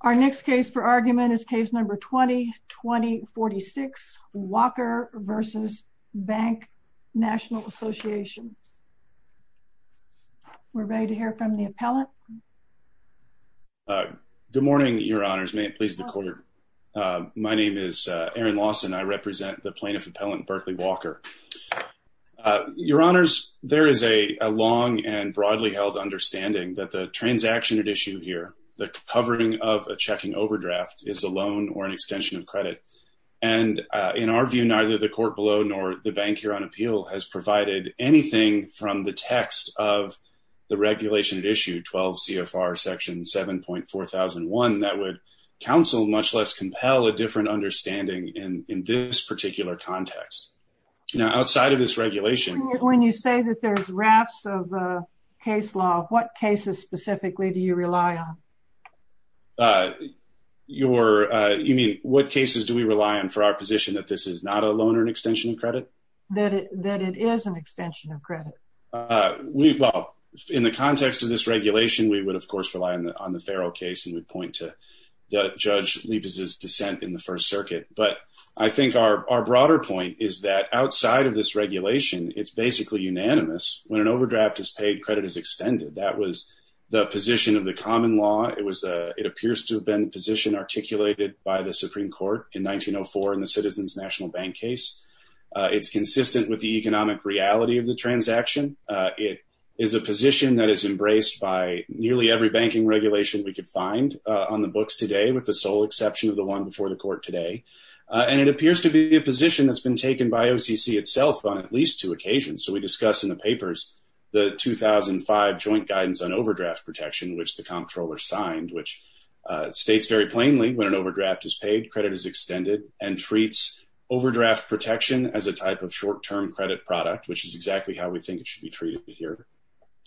Our next case for argument is Case No. 20-2046, Walker v. Bank National Association. We're ready to hear from the appellant. Good morning, Your Honors. May it please the Court. My name is Aaron Lawson. I represent the Plaintiff Appellant, Berkeley Walker. Your Honors, there is a long and broadly held understanding that the transaction at issue here, the covering of a checking overdraft, is a loan or an extension of credit. And in our view, neither the Court below nor the Bank here on appeal has provided anything from the text of the regulation at issue, 12 CFR Section 7.4001, that would counsel, much less compel, a different understanding in this particular context. Now, outside of this regulation... When you say that there's rafts of case law, what cases specifically do you rely on? You mean, what cases do we rely on for our position that this is not a loan or an extension of credit? That it is an extension of credit. Well, in the context of this regulation, we would, of course, rely on the Farrell case, and we'd point to Judge Liebes' dissent in the First Circuit. But I think our broader point is that outside of this regulation, it's basically unanimous. When an overdraft is paid, credit is extended. That was the position of the common law. It appears to have been the position articulated by the Supreme Court in 1904 in the Citizens National Bank case. It's consistent with the economic reality of the transaction. It is a position that is embraced by nearly every banking regulation we could find on the books today, with the sole exception of the one before the court today. And it appears to be a position that's been taken by OCC itself on at least two occasions. So we discuss in the papers the 2005 Joint Guidance on Overdraft Protection, which the comptroller signed, which states very plainly when an overdraft is paid, credit is extended, and treats overdraft protection as a type of short-term credit product, which is exactly how we think it should be treated here.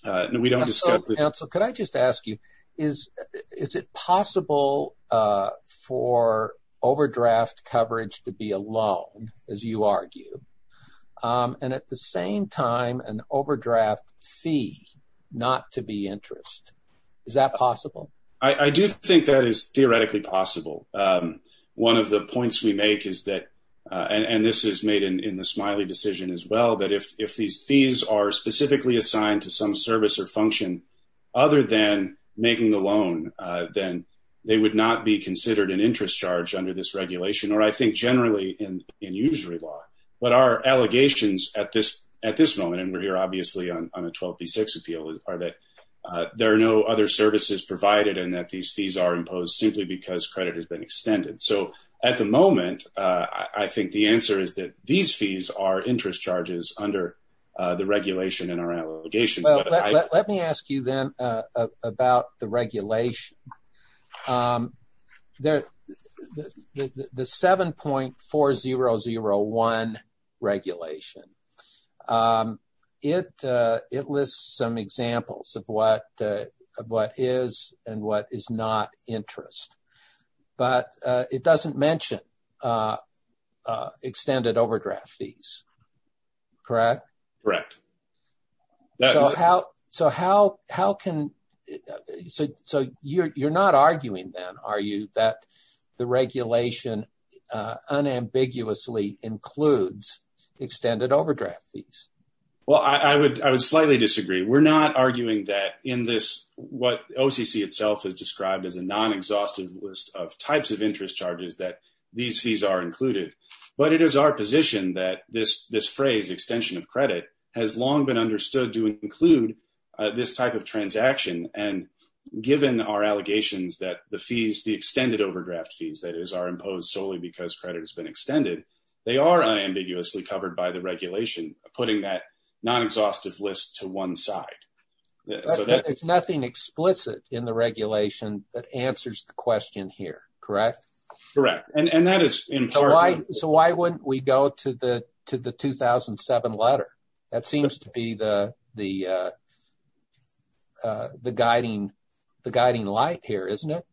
We don't discuss it. Counsel, could I just ask you, is it possible for overdraft coverage to be a loan, as you argue, and at the same time an overdraft fee not to be interest? Is that possible? I do think that is theoretically possible. One of the points we make is that, and this is made in the Smiley decision as well, that if these fees are specifically assigned to some service or function other than making the loan, then they would not be considered an interest charge under this regulation, or I think generally in usury law. But our allegations at this moment, and we're here obviously on the 12B6 appeal, are that there are no other services provided and that these fees are imposed simply because credit has been extended. So at the moment, I think the answer is that these fees are interest charges under the regulation in our allegations. Let me ask you then about the regulation. The 7.4001 regulation, it lists some examples of what is and what is not interest. But it doesn't mention extended overdraft fees, correct? Correct. So you're not arguing then, are you, that the regulation unambiguously includes extended overdraft fees? Well, I would slightly disagree. We're not arguing that in this, what OCC itself has described as a non-exhaustive list of types of interest charges, that these fees are included. But it is our position that this phrase, extension of credit, has long been understood to include this type of transaction. And given our allegations that the fees, the extended overdraft fees that are imposed solely because credit has been extended, they are unambiguously covered by the regulation, putting that non-exhaustive list to one side. There's nothing explicit in the regulation that answers the question here, correct? Correct. So why wouldn't we go to the 2007 letter? That seems to be the guiding light here, isn't it?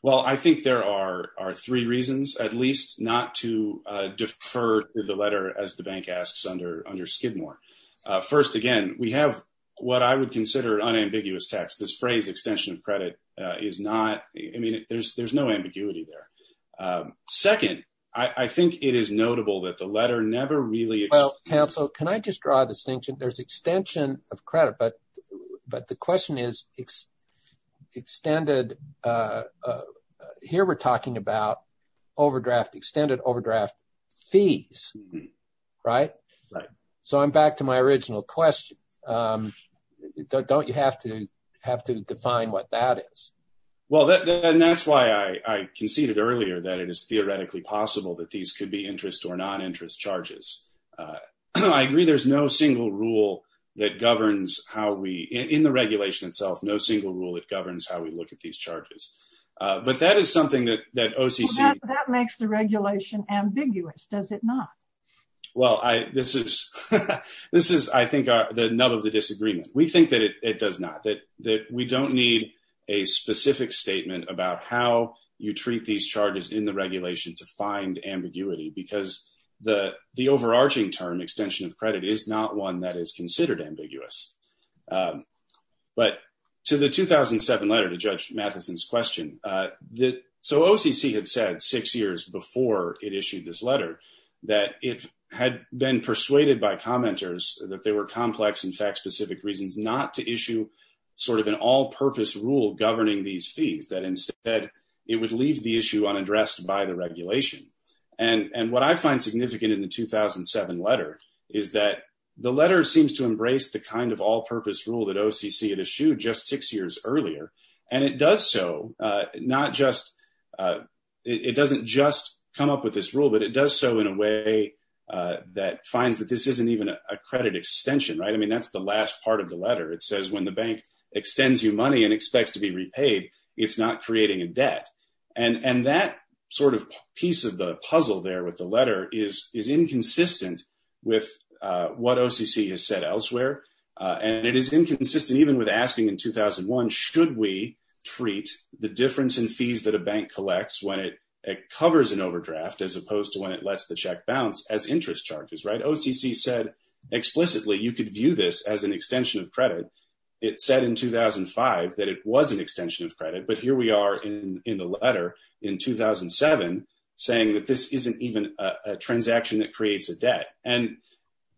Well, I think there are three reasons, at least, not to defer to the letter, as the bank asks under Skidmore. First, again, we have what I would consider an unambiguous text. This phrase, extension of credit, is not – I mean, there's no ambiguity there. Second, I think it is notable that the letter never really – Well, counsel, can I just draw a distinction? There's extension of credit, but the question is extended – here we're talking about overdraft, extended overdraft fees, right? Right. So I'm back to my original question. Don't you have to define what that is? Well, and that's why I conceded earlier that it is theoretically possible that these could be interest or non-interest charges. I agree there's no single rule that governs how we – in the regulation itself, no single rule that governs how we look at these charges. But that is something that OCC – Well, that makes the regulation ambiguous, does it not? Well, this is, I think, the nub of the disagreement. We think that it does not, that we don't need a specific statement about how you treat these charges in the regulation to find ambiguity because the overarching term, extension of credit, is not one that is considered ambiguous. But to the 2007 letter to Judge Matheson's question, so OCC had said six years before it issued this letter that it had been persuaded by commenters that there were complex and fact-specific reasons not to issue sort of an all-purpose rule governing these fees, that instead it would leave the issue unaddressed by the regulation. And what I find significant in the 2007 letter is that the letter seems to embrace the kind of all-purpose rule that OCC had issued just six years earlier. And it does so not just – it doesn't just come up with this rule, but it does so in a way that finds that this isn't even a credit extension, right? I mean, that's the last part of the letter. It says when the bank extends you money and expects to be repaid, it's not creating a debt. And that sort of piece of the puzzle there with the letter is inconsistent with what OCC has said elsewhere, and it is inconsistent even with asking in 2001 should we treat the difference in fees that a bank collects when it covers an overdraft as opposed to when it lets the check bounce as interest charges, right? OCC said explicitly you could view this as an extension of credit. It said in 2005 that it was an extension of credit. But here we are in the letter in 2007 saying that this isn't even a transaction that creates a debt. And,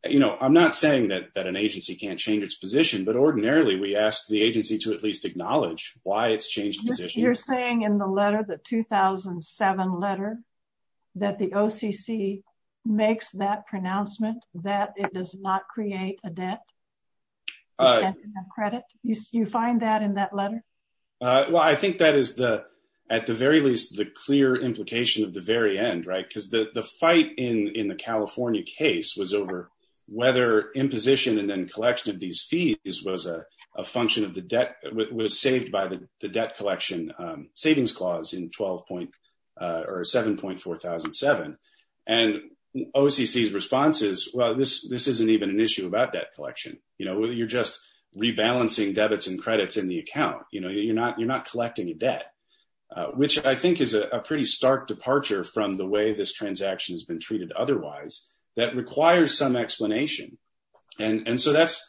you know, I'm not saying that an agency can't change its position, but ordinarily we ask the agency to at least acknowledge why it's changed its position. You're saying in the letter, the 2007 letter, that the OCC makes that pronouncement that it does not create a debt, an extension of credit. You find that in that letter? Well, I think that is at the very least the clear implication of the very end, right? Because the fight in the California case was over whether imposition and then collection of these fees was a function of the debt, was saved by the debt collection savings clause in 7.4007. And OCC's response is, well, this isn't even an issue about debt collection. You know, you're just rebalancing debits and credits in the account. You know, you're not collecting a debt, which I think is a pretty stark departure from the way this transaction has been treated otherwise that requires some explanation. And so that's,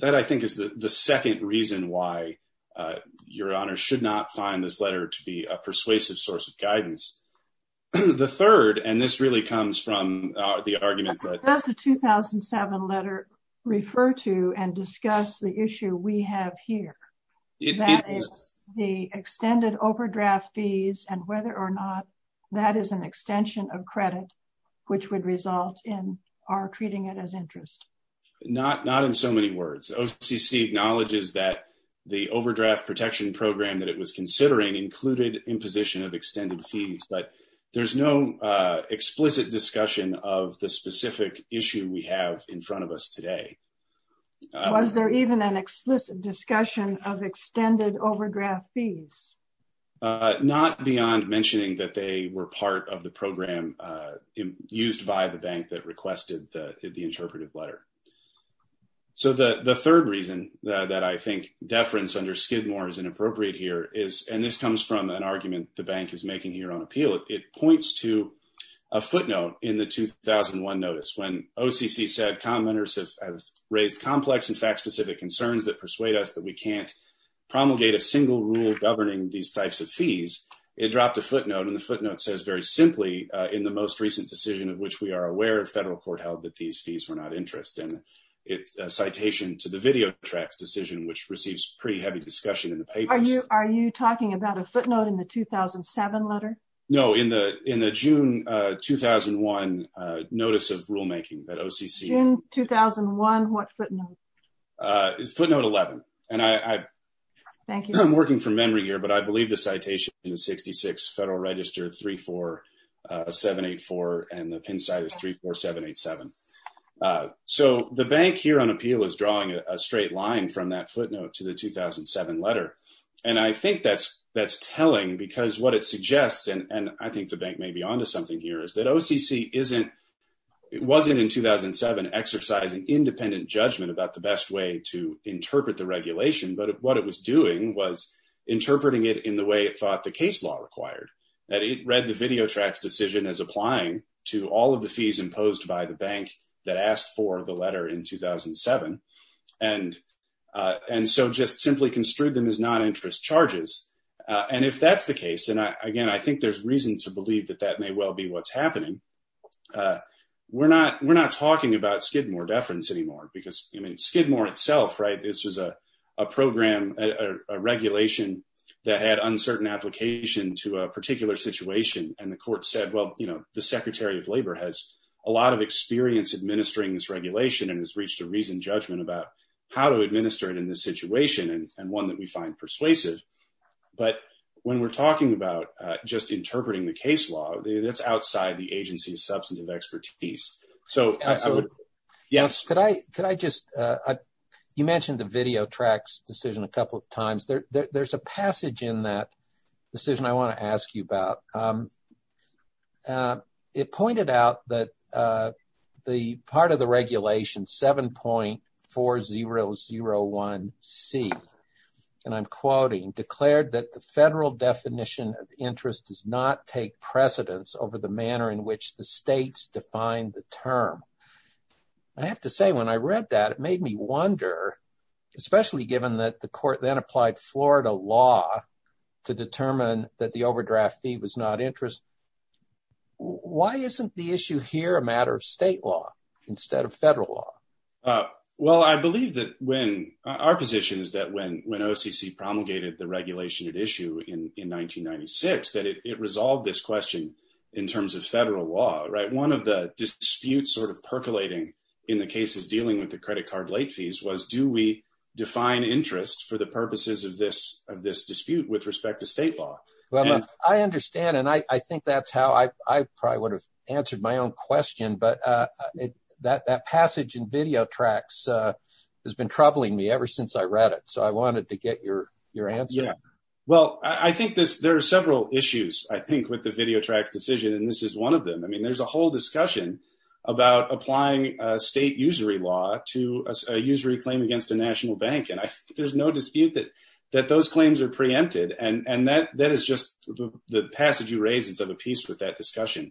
that I think is the second reason why your honor should not find this letter to be a persuasive source of guidance. The third, and this really comes from the argument. Does the 2007 letter refer to and discuss the issue we have here? The extended overdraft fees and whether or not that is an extension of credit, which would result in our treating it as interest. Not, not in so many words. OCC acknowledges that the overdraft protection program that it was considering included imposition of extended fees, but there's no explicit discussion of the specific issue we have in front of us today. Was there even an explicit discussion of extended overdraft fees? Not beyond mentioning that they were part of the program used by the bank that requested the interpretive letter. So the third reason that I think deference under Skidmore is inappropriate here is, and this comes from an argument the bank is making here on appeal, it points to a footnote in the 2001 notice when OCC said, commenters have raised complex and fact specific concerns that persuade us that we can't promulgate a single rule governing these types of fees. It dropped a footnote and the footnote says very simply, in the most recent decision of which we are aware of, federal court held that these fees were not interest in its citation to the video tracks decision, which receives pretty heavy discussion in the papers. Are you talking about a footnote in the 2007 letter? No, in the June 2001 notice of rulemaking that OCC. June 2001, what footnote? Footnote 11. Thank you. I'm working from memory here, but I believe the citation is 66 Federal Register 34784 and the pin site is 34787. So the bank here on appeal is drawing a straight line from that footnote to the 2007 letter. And I think that's that's telling because what it suggests, and I think the bank may be onto something here is that OCC isn't it wasn't in 2007 exercising independent judgment about the best way to interpret the regulation. But what it was doing was interpreting it in the way it thought the case law required that it read the video tracks decision as applying to all of the fees imposed by the bank that asked for the letter in 2007. And and so just simply construed them as not interest charges. And if that's the case, and again, I think there's reason to believe that that may well be what's happening. We're not we're not talking about Skidmore deference anymore because Skidmore itself. Right. This is a program, a regulation that had uncertain application to a particular situation. And the court said, well, you know, the secretary of labor has a lot of experience administering this regulation and has reached a reasoned judgment about how to administer it in this situation and one that we find persuasive. But when we're talking about just interpreting the case law, that's outside the agency's substantive expertise. So, yes, could I could I just you mentioned the video tracks decision a couple of times. There's a passage in that decision I want to ask you about. It pointed out that the part of the regulation seven point four zero zero one C. And I'm quoting declared that the federal definition of interest does not take precedence over the manner in which the states define the term. I have to say, when I read that, it made me wonder, especially given that the court then applied Florida law to determine that the overdraft fee was not interest. Why isn't the issue here a matter of state law instead of federal law? Well, I believe that when our position is that when when OCC promulgated the regulation at issue in 1996, that it resolved this question in terms of federal law. Right. One of the disputes sort of percolating in the case is dealing with the credit card late fees. Was do we define interest for the purposes of this of this dispute with respect to state law? Well, I understand. And I think that's how I probably would have answered my own question. But that that passage in video tracks has been troubling me ever since I read it. So I wanted to get your your answer. Yeah, well, I think this there are several issues, I think, with the video tracks decision. And this is one of them. I mean, there's a whole discussion about applying state usury law to a usury claim against a national bank. And I think there's no dispute that that those claims are preempted. And that that is just the passage you raise is of a piece with that discussion.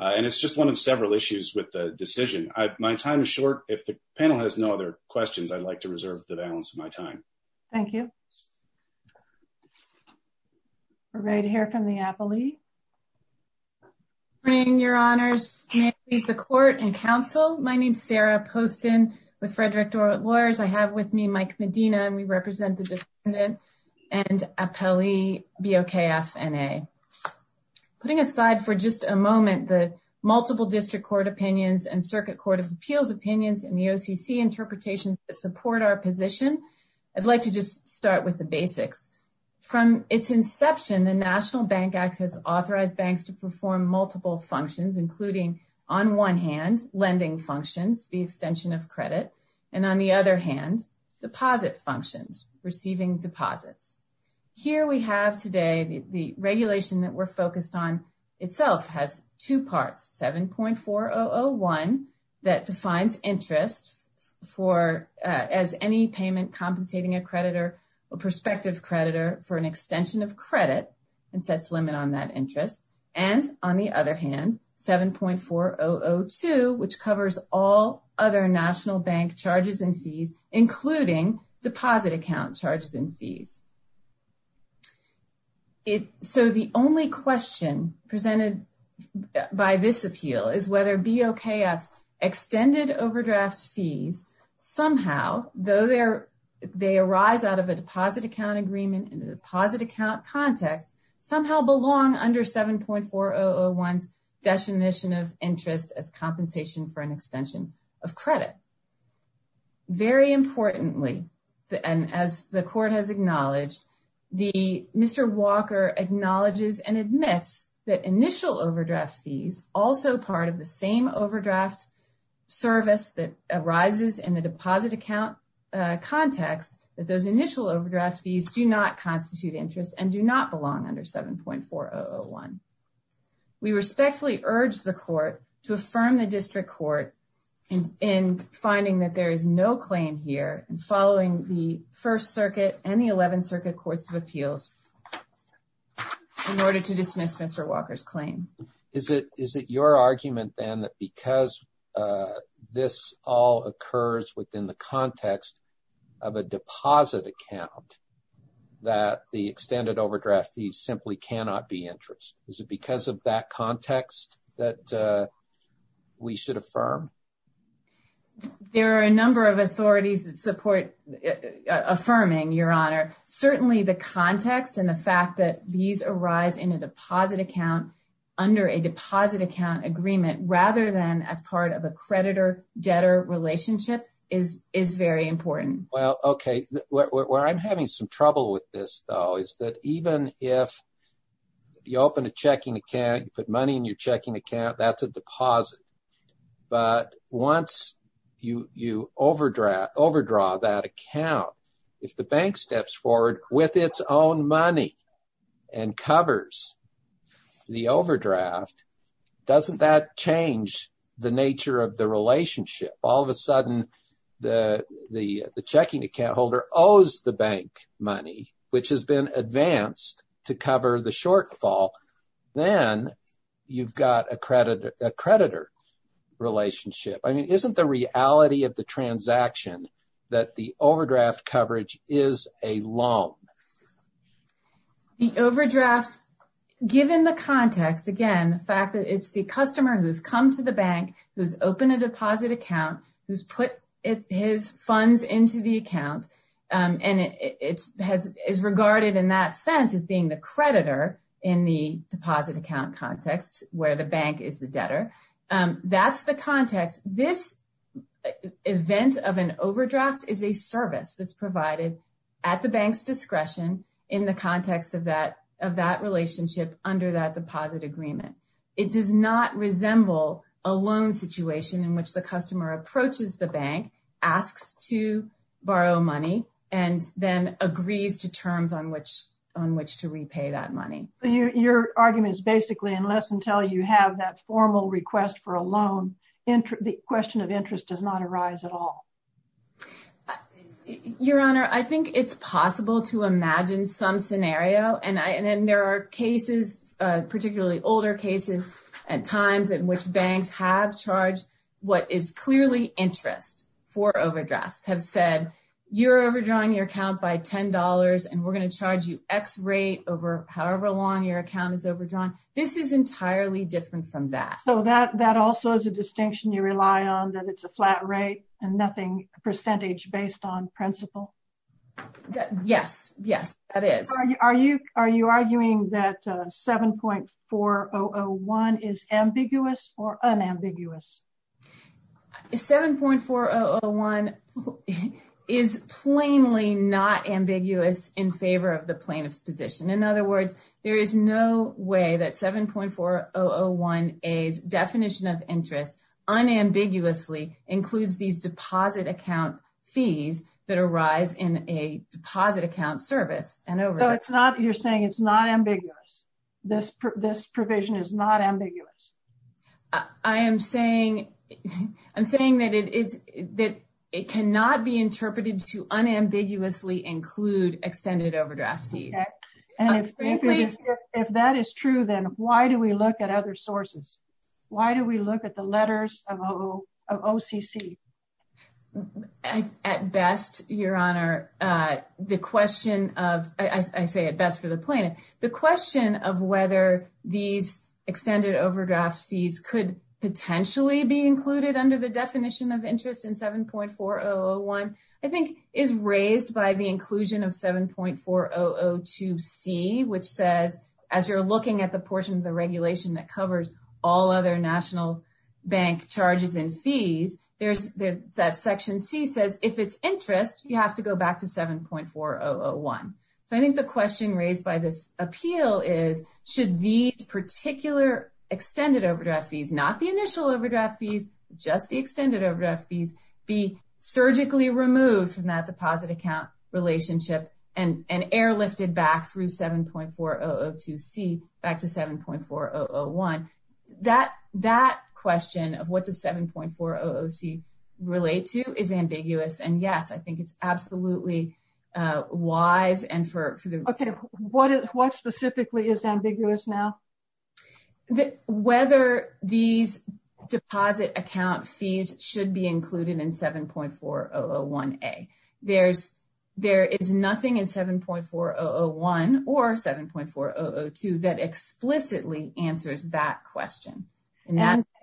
And it's just one of several issues with the decision. My time is short. If the panel has no other questions, I'd like to reserve the balance of my time. Thank you. We're ready to hear from the appellee. Bring your honors. He's the court and counsel. My name is Sarah Poston with Frederick lawyers. I have with me, Mike Medina, and we represent the defendant and appellee. Be okay. FNA putting aside for just a moment. The multiple district court opinions and circuit court of appeals opinions and the OCC interpretations that support our position. I'd like to just start with the basics from its inception. The National Bank Act has authorized banks to perform multiple functions, including on one hand, lending functions, the extension of credit. And on the other hand, deposit functions receiving deposits. Here we have today, the regulation that we're focused on itself has two parts. 7.4001 that defines interest for as any payment compensating a creditor or prospective creditor for an extension of credit and sets limit on that interest. And on the other hand, 7.4002, which covers all other national bank charges and fees, including deposit account charges and fees. If so, the only question presented by this appeal is whether be okay. Extended overdraft fees somehow, though, there they arise out of a deposit account agreement and deposit account context somehow belong under 7.4001 definition of interest as compensation for an extension of credit. Very importantly, and as the court has acknowledged, the Mr. Walker acknowledges and admits that initial overdraft fees also part of the same overdraft. Service that arises in the deposit account context that those initial overdraft fees do not constitute interest and do not belong under 7.4001. We respectfully urge the court to affirm the district court in finding that there is no claim here and following the 1st Circuit and the 11th Circuit Courts of Appeals. In order to dismiss Mr. Walker's claim, is it is it your argument then that because this all occurs within the context of a deposit account. That the extended overdraft fees simply cannot be interest is it because of that context that we should affirm. There are a number of authorities that support affirming your honor. Certainly the context and the fact that these arise in a deposit account under a deposit account agreement rather than as part of a creditor debtor relationship is is very important. Well, OK, where I'm having some trouble with this, though, is that even if you open a checking account, put money in your checking account, that's a deposit. But once you overdraft overdraw that account, if the bank steps forward with its own money and covers the overdraft, doesn't that change the nature of the relationship? All of a sudden, the the the checking account holder owes the bank money, which has been advanced to cover the shortfall. Then you've got a creditor creditor relationship. I mean, isn't the reality of the transaction that the overdraft coverage is a loan? The overdraft, given the context, again, the fact that it's the customer who's come to the bank, who's opened a deposit account, who's put his funds into the account and it's has is regarded in that sense as being the creditor in the deposit account context where the bank is the debtor. That's the context. This event of an overdraft is a service that's provided at the bank's discretion in the context of that of that relationship under that deposit agreement. It does not resemble a loan situation in which the customer approaches the bank, asks to borrow money and then agrees to terms on which on which to repay that money. Your argument is basically unless until you have that formal request for a loan, the question of interest does not arise at all. Your Honor, I think it's possible to imagine some scenario and then there are cases, particularly older cases at times in which banks have charged what is clearly interest for overdrafts have said you're overdrawing your account by ten dollars and we're going to charge you X rate over however long your account is overdrawn. This is entirely different from that. So that that also is a distinction you rely on, that it's a flat rate and nothing percentage based on principle. Yes, yes, that is. Are you are you are you arguing that 7.4001 is ambiguous or unambiguous? 7.4001 is plainly not ambiguous in favor of the plaintiff's position. In other words, there is no way that 7.4001A's definition of interest unambiguously includes these deposit account fees that arise in a deposit account service. So it's not you're saying it's not ambiguous. This provision is not ambiguous. I am saying I'm saying that it is that it cannot be interpreted to unambiguously include extended overdraft fees. If that is true, then why do we look at other sources? Why do we look at the letters of OCC? At best, Your Honor, the question of I say at best for the plaintiff. The question of whether these extended overdraft fees could potentially be included under the definition of interest in 7.4001, I think, is raised by the inclusion of 7.4002C, which says, as you're looking at the portion of the regulation that covers all other national bank charges and fees. There's that Section C says, if it's interest, you have to go back to 7.4001. So I think the question raised by this appeal is, should these particular extended overdraft fees, not the initial overdraft fees, just the extended overdraft fees, be surgically removed from that deposit account relationship and airlifted back through 7.4002C back to 7.4001? That question of what does 7.4002C relate to is ambiguous. And yes, I think it's absolutely wise. And for what specifically is ambiguous now? Whether these deposit account fees should be included in 7.4001A. There is nothing in 7.4001 or 7.4002 that explicitly answers that question.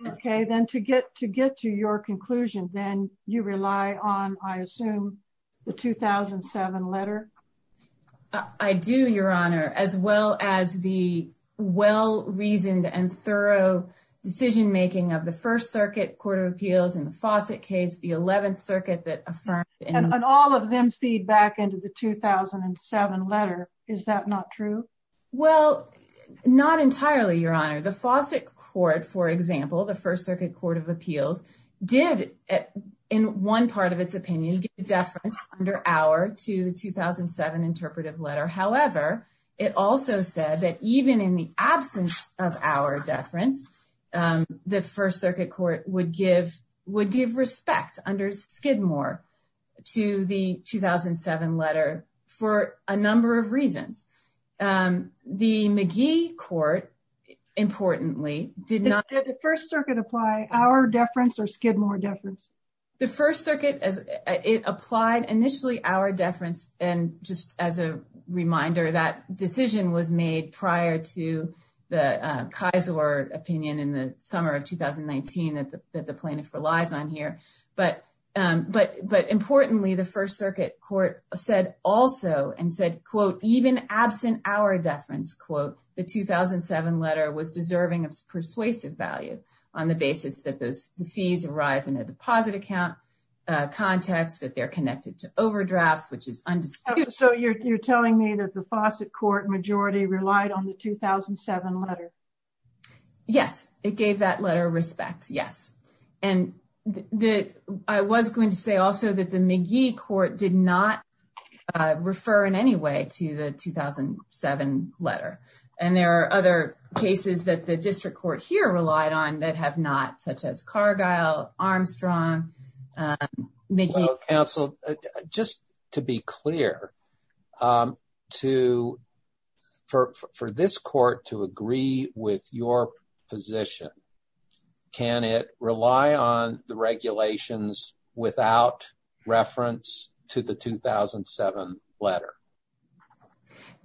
Okay. Then to get to your conclusion, then you rely on, I assume, the 2007 letter? I do, Your Honor, as well as the well-reasoned and thorough decision-making of the First Circuit Court of Appeals in the Fawcett case, the 11th Circuit that affirmed. And all of them feed back into the 2007 letter. Is that not true? The Fawcett Court, for example, the First Circuit Court of Appeals, did, in one part of its opinion, give deference under our to the 2007 interpretive letter. However, it also said that even in the absence of our deference, the First Circuit Court would give respect under Skidmore to the 2007 letter for a number of reasons. The McGee Court, importantly, did not... Did the First Circuit apply our deference or Skidmore deference? The First Circuit, it applied initially our deference. And just as a reminder, that decision was made prior to the Kaiser opinion in the summer of 2019 that the plaintiff relies on here. But importantly, the First Circuit Court said also and said, quote, even absent our deference, quote, the 2007 letter was deserving of persuasive value on the basis that the fees arise in a deposit account context, that they're connected to overdrafts, which is undisputed. So you're telling me that the Fawcett Court majority relied on the 2007 letter? Yes, it gave that letter respect. Yes. And I was going to say also that the McGee Court did not refer in any way to the 2007 letter. And there are other cases that the district court here relied on that have not, such as Cargill, Armstrong, McGee. Counsel, just to be clear, for this court to agree with your position, can it rely on the regulations without reference to the 2007 letter?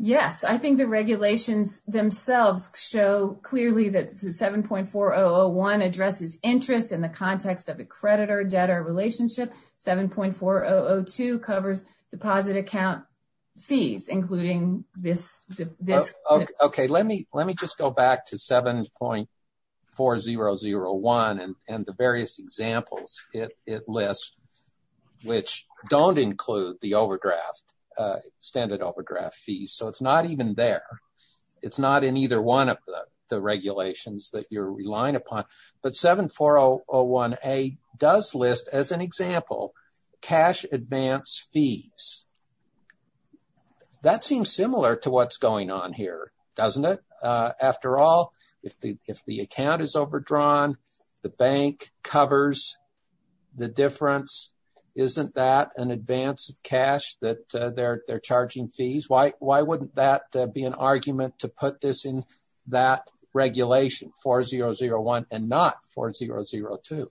Yes, I think the regulations themselves show clearly that 7.4001 addresses interest in the context of a creditor-debtor relationship. 7.4002 covers deposit account fees, including this. OK, let me let me just go back to 7.4001 and the various examples it lists, which don't include the overdraft, extended overdraft fees. So it's not even there. It's not in either one of the regulations that you're relying upon. But 7.4001A does list, as an example, cash advance fees. That seems similar to what's going on here, doesn't it? After all, if the account is overdrawn, the bank covers the difference. Isn't that an advance of cash that they're charging fees? Why wouldn't that be an argument to put this in that regulation, 4.001 and not 4.002?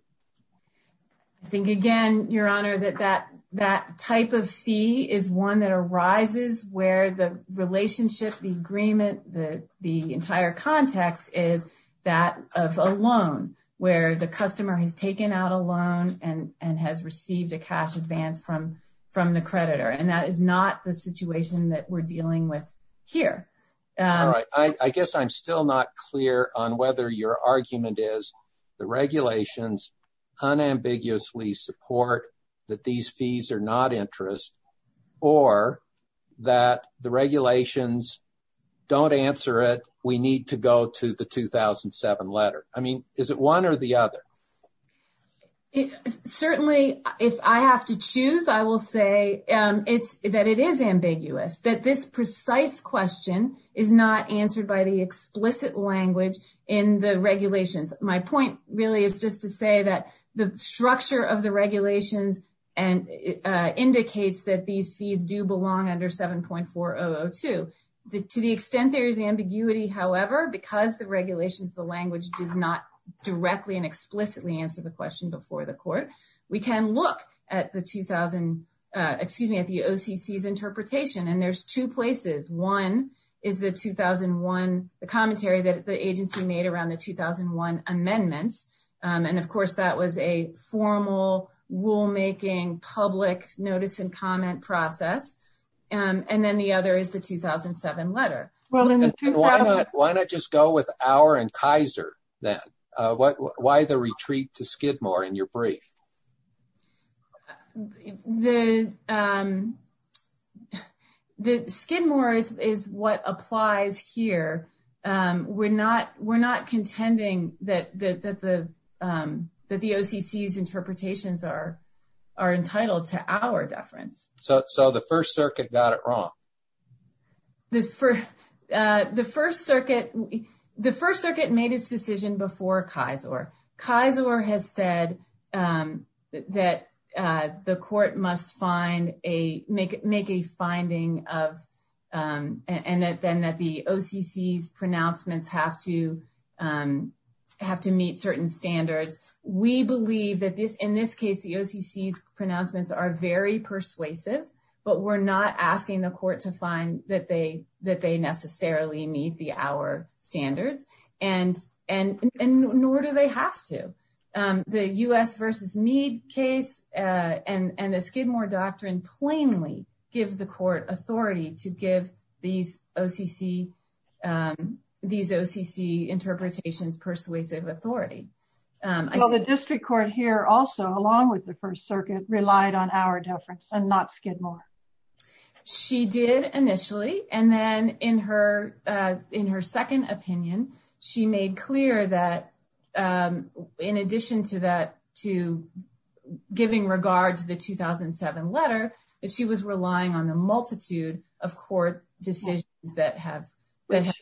I think, again, Your Honor, that that type of fee is one that arises where the relationship, the agreement, the entire context is that of a loan, where the customer has taken out a loan and has received a cash advance from the creditor. And that is not the situation that we're dealing with here. All right. I guess I'm still not clear on whether your argument is the regulations unambiguously support that these fees are not interest or that the regulations don't answer it. We need to go to the 2007 letter. I mean, is it one or the other? Certainly, if I have to choose, I will say that it is ambiguous, that this precise question is not answered by the explicit language in the regulations. My point really is just to say that the structure of the regulations indicates that these fees do belong under 7.4002. To the extent there is ambiguity, however, because the regulations, the language does not directly and explicitly answer the question before the court, we can look at the 2000, excuse me, at the OCC's interpretation. And there's two places. One is the 2001, the commentary that the agency made around the 2001 amendments. And of course, that was a formal rulemaking public notice and comment process. And then the other is the 2007 letter. Why not just go with our and Kaiser then? Why the retreat to Skidmore in your brief? The Skidmore is what applies here. We're not contending that the OCC's interpretations are entitled to our deference. So the First Circuit got it wrong? The First Circuit, the First Circuit made its decision before Kaiser. Kaiser has said that the court must find a make make a finding of and then that the OCC's pronouncements have to have to meet certain standards. We believe that this in this case, the OCC's pronouncements are very persuasive, but we're not asking the court to find that they that they necessarily meet the our standards. And and nor do they have to. The U.S. versus Meade case and the Skidmore doctrine plainly give the court authority to give these OCC these OCC interpretations persuasive authority. Well, the district court here also, along with the First Circuit, relied on our deference and not Skidmore. She did initially. And then in her in her second opinion, she made clear that in addition to that, to giving regard to the 2007 letter that she was relying on the multitude of court decisions that have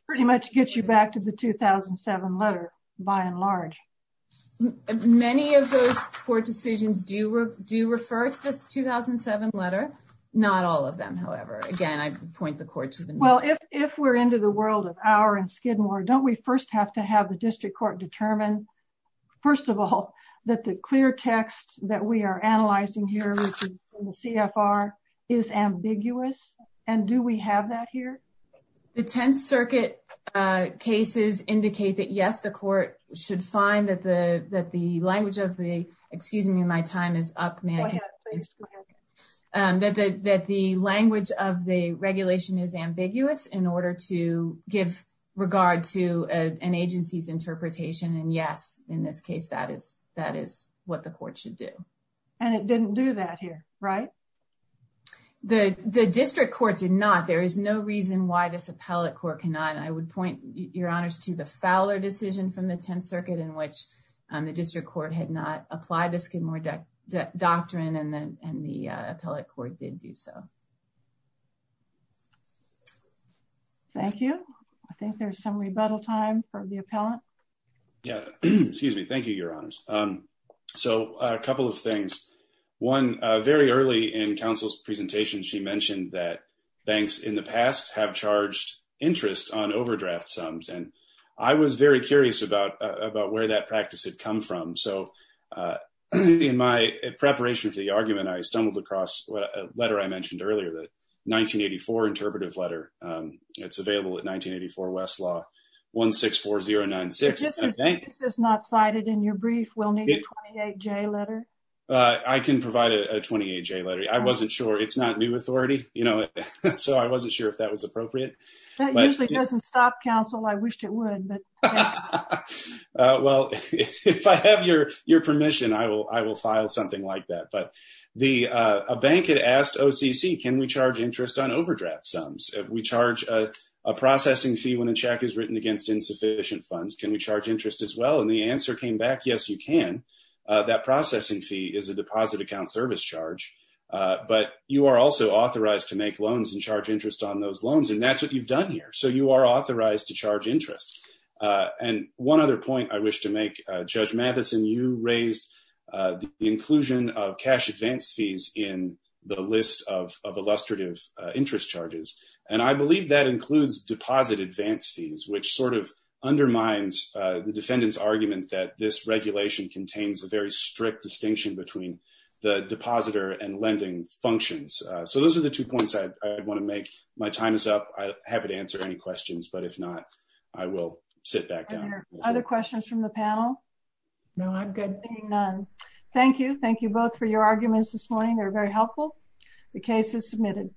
pretty much get you back to the 2007 letter by and large. Many of those court decisions do do refer to this 2007 letter. Not all of them, however, again, I point the court to them. Well, if if we're into the world of our and Skidmore, don't we first have to have the district court determine, first of all, that the clear text that we are analyzing here, the CFR is ambiguous. And do we have that here? The 10th Circuit cases indicate that, yes, the court should find that the that the language of the excuse me, my time is up. That that the language of the regulation is ambiguous in order to give regard to an agency's interpretation. And yes, in this case, that is that is what the court should do. And it didn't do that here. Right. The district court did not. There is no reason why this appellate court cannot. I would point your honors to the Fowler decision from the 10th Circuit in which the district court had not applied the Skidmore doctrine and then and the appellate court did do so. Thank you. I think there's some rebuttal time for the appellant. Yeah, excuse me. Thank you, your honors. So a couple of things. One, very early in counsel's presentation, she mentioned that banks in the past have charged interest on overdraft sums. And I was very curious about about where that practice had come from. So in my preparation for the argument, I stumbled across a letter I mentioned earlier that 1984 interpretive letter. It's available at 1984 Westlaw one six four zero nine six. This is not cited in your brief. We'll need a letter. I can provide a 28 J letter. I wasn't sure. It's not new authority. You know, so I wasn't sure if that was appropriate. That usually doesn't stop counsel. I wished it would. But well, if I have your your permission, I will I will file something like that. But the bank had asked OCC, can we charge interest on overdraft sums? We charge a processing fee when a check is written against insufficient funds. Can we charge interest as well? And the answer came back. Yes, you can. That processing fee is a deposit account service charge. But you are also authorized to make loans and charge interest on those loans. And that's what you've done here. So you are authorized to charge interest. And one other point I wish to make, Judge Mathison, you raised the inclusion of cash advance fees in the list of illustrative interest charges. And I believe that includes deposit advance fees, which sort of undermines the defendant's argument that this regulation contains a very strict distinction between the depositor and lending functions. So those are the two points I want to make. My time is up. I'm happy to answer any questions. But if not, I will sit back down. Other questions from the panel? No, I'm good. None. Thank you. Thank you both for your arguments this morning. They're very helpful. The case is submitted.